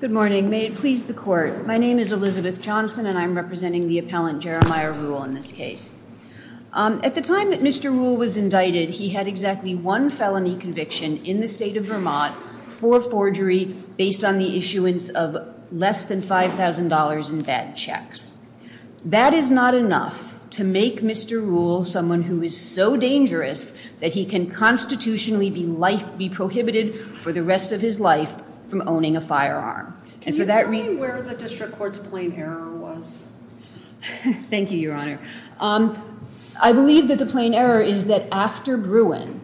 Good morning. May it please the court. My name is Elizabeth Johnson and I'm representing the appellant Jeremiah Ruhl in this case. At the time that Mr. Ruhl was indicted, he had exactly one felony conviction in the state of Vermont for forgery based on the issuance of less than $5,000 in bad checks. That is not enough to make Mr. Ruhl someone who is so dangerous that he can constitutionally be life, be prohibited for the rest of his life from owning a firearm. And for that reason- What district court's plain error was? Thank you, Your Honor. I believe that the plain error is that after Bruin,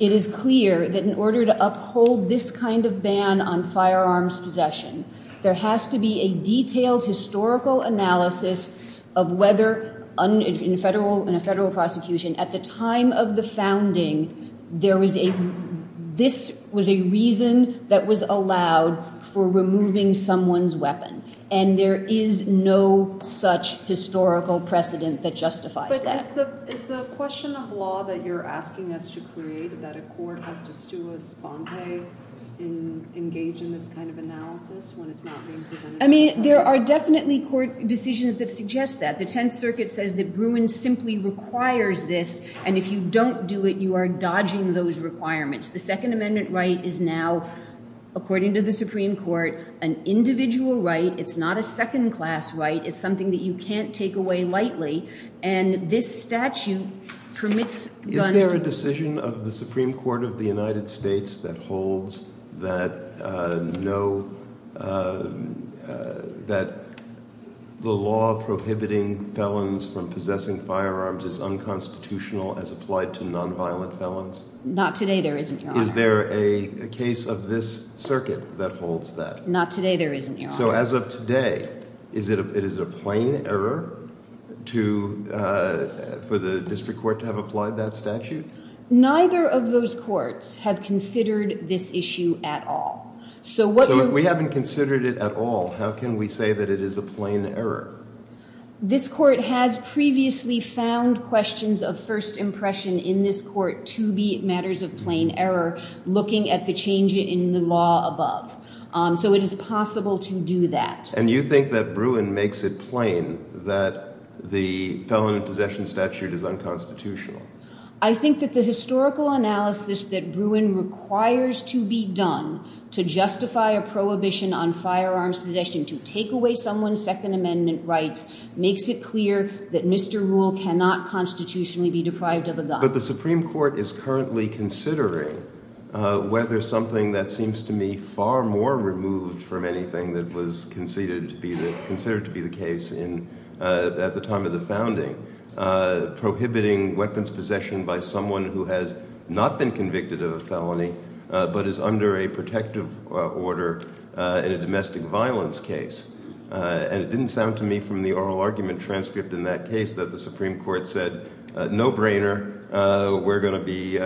it is clear that in order to uphold this kind of ban on firearms possession, there has to be a detailed historical analysis of whether in a federal prosecution at the time of the founding, this was a reason that was allowed for removing someone's weapon. And there is no such historical precedent that justifies that. But is the question of law that you're asking us to create, that a court has to stew a sponte in engaging this kind of analysis when it's not being presented to the public? I mean, there are definitely court decisions that suggest that. The Tenth Circuit says that Bruin simply requires this, and if you don't do it, you are dodging those requirements. The Second Amendment right is now, according to the Supreme Court, an individual right. It's not a second-class right. It's something that you can't take away lightly. And this statute permits guns to- Is there a decision of the Supreme Court of the United States that holds that no, that the law prohibiting felons from possessing firearms is unconstitutional as applied to nonviolent felons? Not today, there isn't, Your Honor. Is there a case of this circuit that holds that? Not today, there isn't, Your Honor. So as of today, it is a plain error for the district court to have applied that statute? Neither of those courts have considered this issue at all. So if we haven't considered it at all, how can we say that it is a plain error? This court has previously found questions of first impression in this court to be matters of plain error, looking at the change in the law above. So it is possible to do that. And you think that Bruin makes it plain that the felon in possession statute is unconstitutional? I think that the historical analysis that Bruin requires to be done to justify a prohibition on firearms possession to take away someone's Second Amendment rights makes it clear that Mr. Rule cannot constitutionally be deprived of a gun. But the Supreme Court is currently considering whether something that seems to me far more removed from anything that was considered to be the case at the time of the founding, prohibiting weapons possession by someone who has not been convicted of a felony but is under a protective order in a domestic violence case. And it didn't sound to me from the oral argument transcript in that case that the Supreme Court said, no-brainer, we're going to be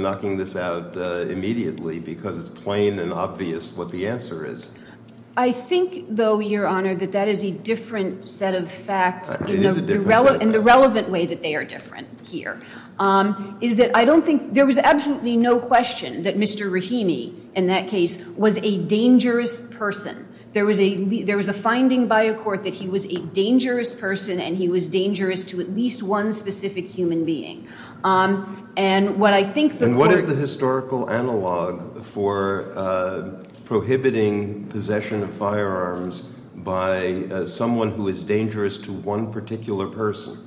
knocking this out immediately because it's plain and obvious what the answer is. I think, though, Your Honor, that that is a different set of facts in the relevant way that they are different here, is that I don't think there was absolutely no question that Mr. Rahimi, in that case, was a dangerous person. There was a finding by a court that he was a dangerous person and he was dangerous to at least one specific human being. And what I think the court- And what is the historical analog for prohibiting possession of firearms by someone who is dangerous to one particular person?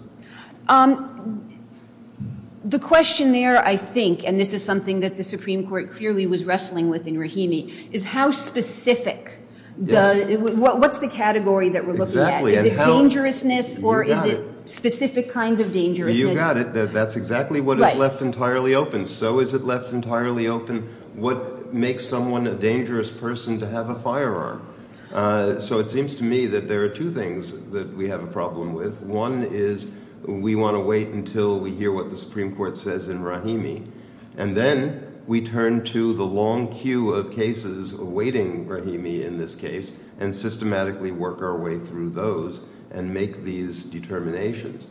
The question there, I think, and this is something that the Supreme Court clearly was wrestling with in Rahimi, is how specific does- what's the category that we're looking at? Is it dangerousness or is it specific kind of dangerousness? You got it. That's exactly what is left entirely open. So is it left entirely open what makes someone a dangerous person to have a firearm? So it seems to me that there are two things that we have a problem with. One is we want to wait until we hear what the Supreme Court says in Rahimi. And then we turn to the long queue of cases awaiting Rahimi in this case and systematically work our way through those and make these determinations.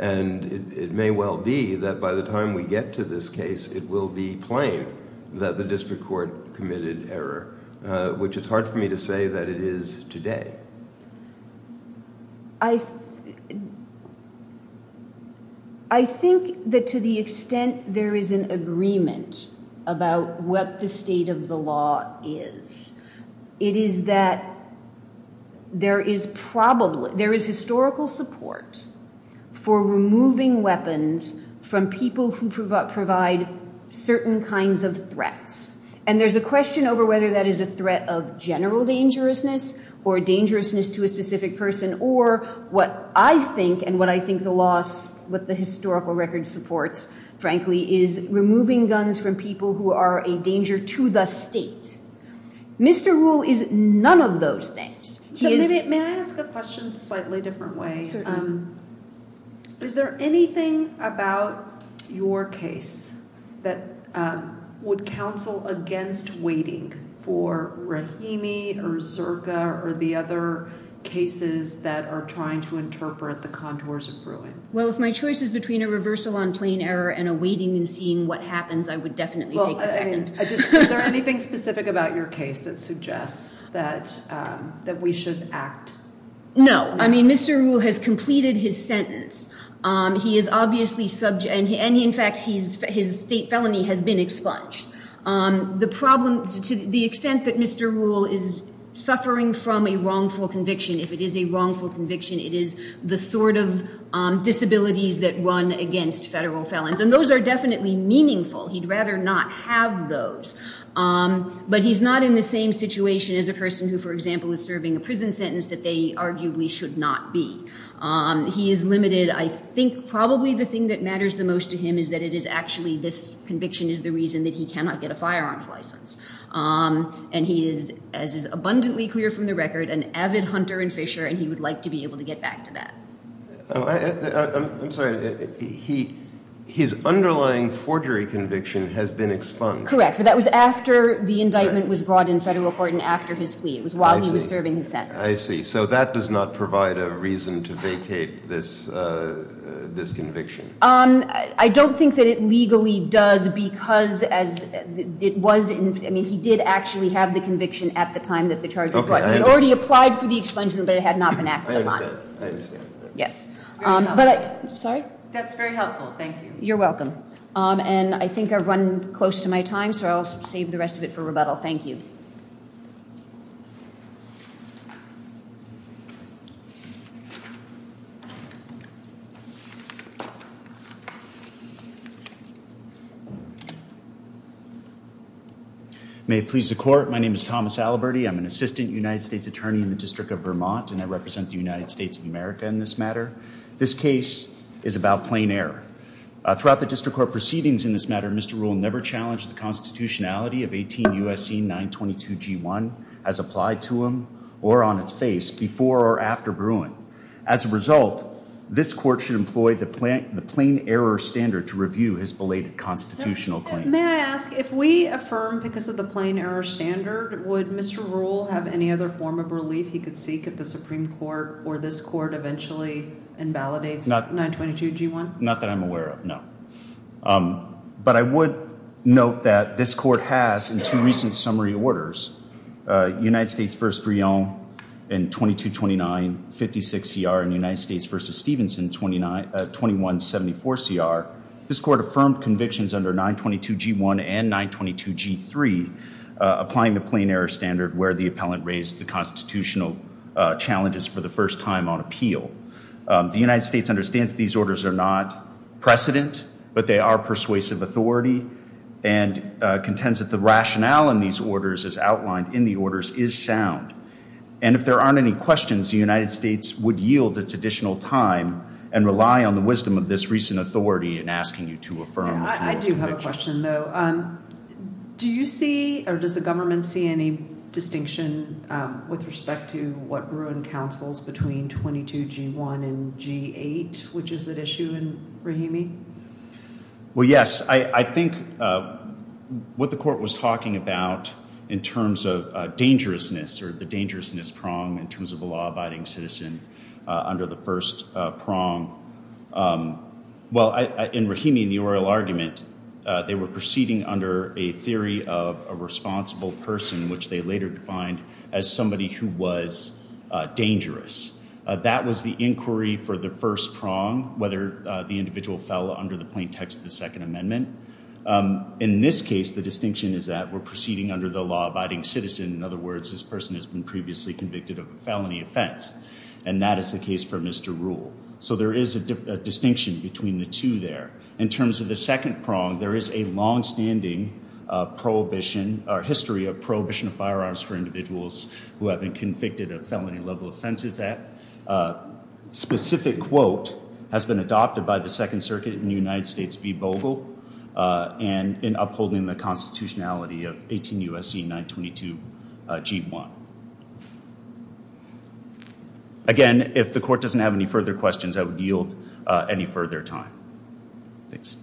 And it may well be that by the time we get to this case, it will be plain that the district court committed error, which it's hard for me to say that it is today. I think that to the extent there is an agreement about what the state of the law is, it is that there is probably- there is historical support for removing weapons from people who And there's a question over whether that is a threat of general dangerousness or dangerousness to a specific person or what I think and what I think the law's- what the historical record supports frankly is removing guns from people who are a danger to the state. Mr. Rule is none of those things. He is- So maybe- may I ask a question slightly different way? Certainly. Is there anything about your case that would counsel against waiting for Rahimi or Zirka or the other cases that are trying to interpret the contours of Bruin? Well, if my choice is between a reversal on plain error and awaiting and seeing what happens, I would definitely take a second. Well, I mean, is there anything specific about your case that suggests that we should act? No. I mean, Mr. Rule has completed his sentence. He is obviously- and in fact, his state felony has been expunged. The problem- to the extent that Mr. Rule is suffering from a wrongful conviction, if it is a wrongful conviction, it is the sort of disabilities that run against federal felons and those are definitely meaningful. He'd rather not have those. But he's not in the same situation as a person who, for example, is serving a prison sentence that they arguably should not be. He is limited. I think probably the thing that matters the most to him is that it is actually this conviction is the reason that he cannot get a firearms license. And he is, as is abundantly clear from the record, an avid hunter and fisher and he would like to be able to get back to that. I'm sorry. His underlying forgery conviction has been expunged. Correct. But that was after the indictment was brought in federal court and after his plea. It was while he was serving his sentence. I see. So that does not provide a reason to vacate this conviction. I don't think that it legally does because it was- I mean, he did actually have the conviction at the time that the charges were brought in. He had already applied for the expungement, but it had not been acted upon. I understand. I understand. Yes. Sorry? That's very helpful. Thank you. You're welcome. And I think I've run close to my time, so I'll save the rest of it for rebuttal. Thank you. Thank you. May it please the court. My name is Thomas Alaberti. I'm an assistant United States attorney in the District of Vermont, and I represent the United States of America in this matter. This case is about plain error. Throughout the district court proceedings in this matter, Mr. Rule never challenged the constitutionality of 18 U.S.C. 922-G1 as applied to him or on its face before or after Bruin. As a result, this court should employ the plain error standard to review his belated constitutional claim. May I ask, if we affirm because of the plain error standard, would Mr. Rule have any other form of relief he could seek if the Supreme Court or this court eventually invalidates 922-G1? Not that I'm aware of, no. But I would note that this court has, in two recent summary orders, United States v. Bruin in 2229-56CR and United States v. Stevenson, 2174-CR, this court affirmed convictions under 922-G1 and 922-G3, applying the plain error standard where the appellant raised the constitutional challenges for the first time on appeal. The United States understands these orders are not precedent, but they are persuasive authority and contends that the rationale in these orders, as outlined in the orders, is sound. And if there aren't any questions, the United States would yield its additional time and rely on the wisdom of this recent authority in asking you to affirm Mr. Rule's convictions. I do have a question, though. Do you see, or does the government see, any distinction with respect to what Bruin counsels between 922-G1 and 922-G8, which is at issue in Rahimi? Well, yes. I think what the court was talking about in terms of dangerousness or the dangerousness prong in terms of a law-abiding citizen under the first prong, well, in Rahimi, in the oral argument, they were proceeding under a theory of a responsible person, which they later defined as somebody who was dangerous. That was the inquiry for the first prong, whether the individual fell under the plain text of the Second Amendment. In this case, the distinction is that we're proceeding under the law-abiding citizen. In other words, this person has been previously convicted of a felony offense. And that is the case for Mr. Rule. So there is a distinction between the two there. In terms of the second prong, there is a longstanding history of prohibition of firearms for a individuals who have been convicted of felony-level offenses. That specific quote has been adopted by the Second Circuit in the United States v. Bogle in upholding the constitutionality of 18 U.S.C. 922-G1. Again, if the court doesn't have any further questions, I would yield any further time. Thanks.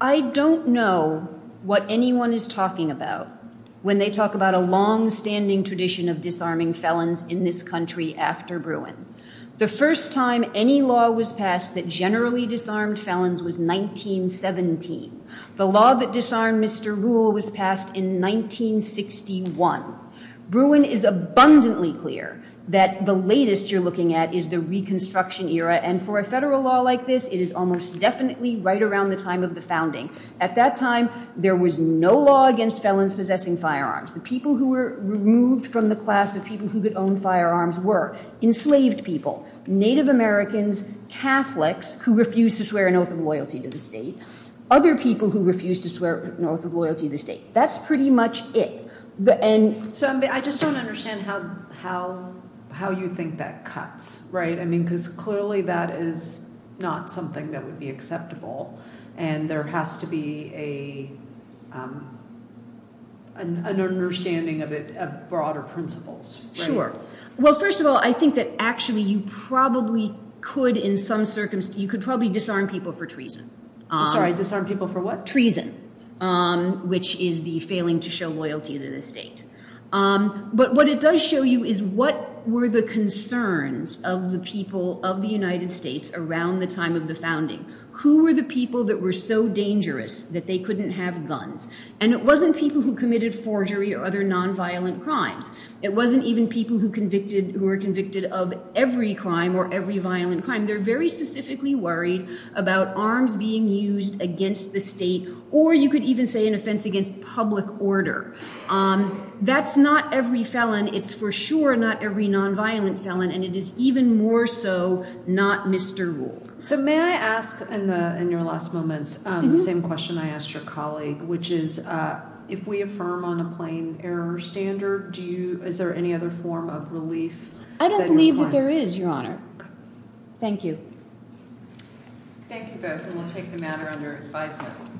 I don't know what anyone is talking about when they talk about a longstanding tradition of disarming felons in this country after Bruin. The first time any law was passed that generally disarmed felons was 1917. The law that disarmed Mr. Rule was passed in 1961. Bruin is abundantly clear that the latest you're looking at is the Reconstruction era. And for a federal law like this, it is almost definitely right around the time of the founding. At that time, there was no law against felons possessing firearms. The people who were removed from the class of people who could own firearms were enslaved people, Native Americans, Catholics who refused to swear an oath of loyalty to the state, other people who refused to swear an oath of loyalty to the state. That's pretty much it. I just don't understand how you think that cuts, right? Because clearly that is not something that would be acceptable. And there has to be an understanding of broader principles. Sure. Well, first of all, I think that actually you probably could in some circumstances, you could probably disarm people for treason. I'm sorry, disarm people for what? Treason, which is the failing to show loyalty to the state. But what it does show you is what were the concerns of the people of the United States around the time of the founding? Who were the people that were so dangerous that they couldn't have guns? And it wasn't people who committed forgery or other nonviolent crimes. It wasn't even people who were convicted of every crime or every violent crime. They're very specifically worried about arms being used against the state, or you could even say an offense against public order. That's not every felon. It's for sure not every nonviolent felon. And it is even more so not Mr. Rule. So may I ask, in your last moments, the same question I asked your colleague, which is, if we affirm on a plain error standard, is there any other form of relief? I don't believe that there is, Your Honor. Thank you. Thank you both, and we'll take the matter under advisement.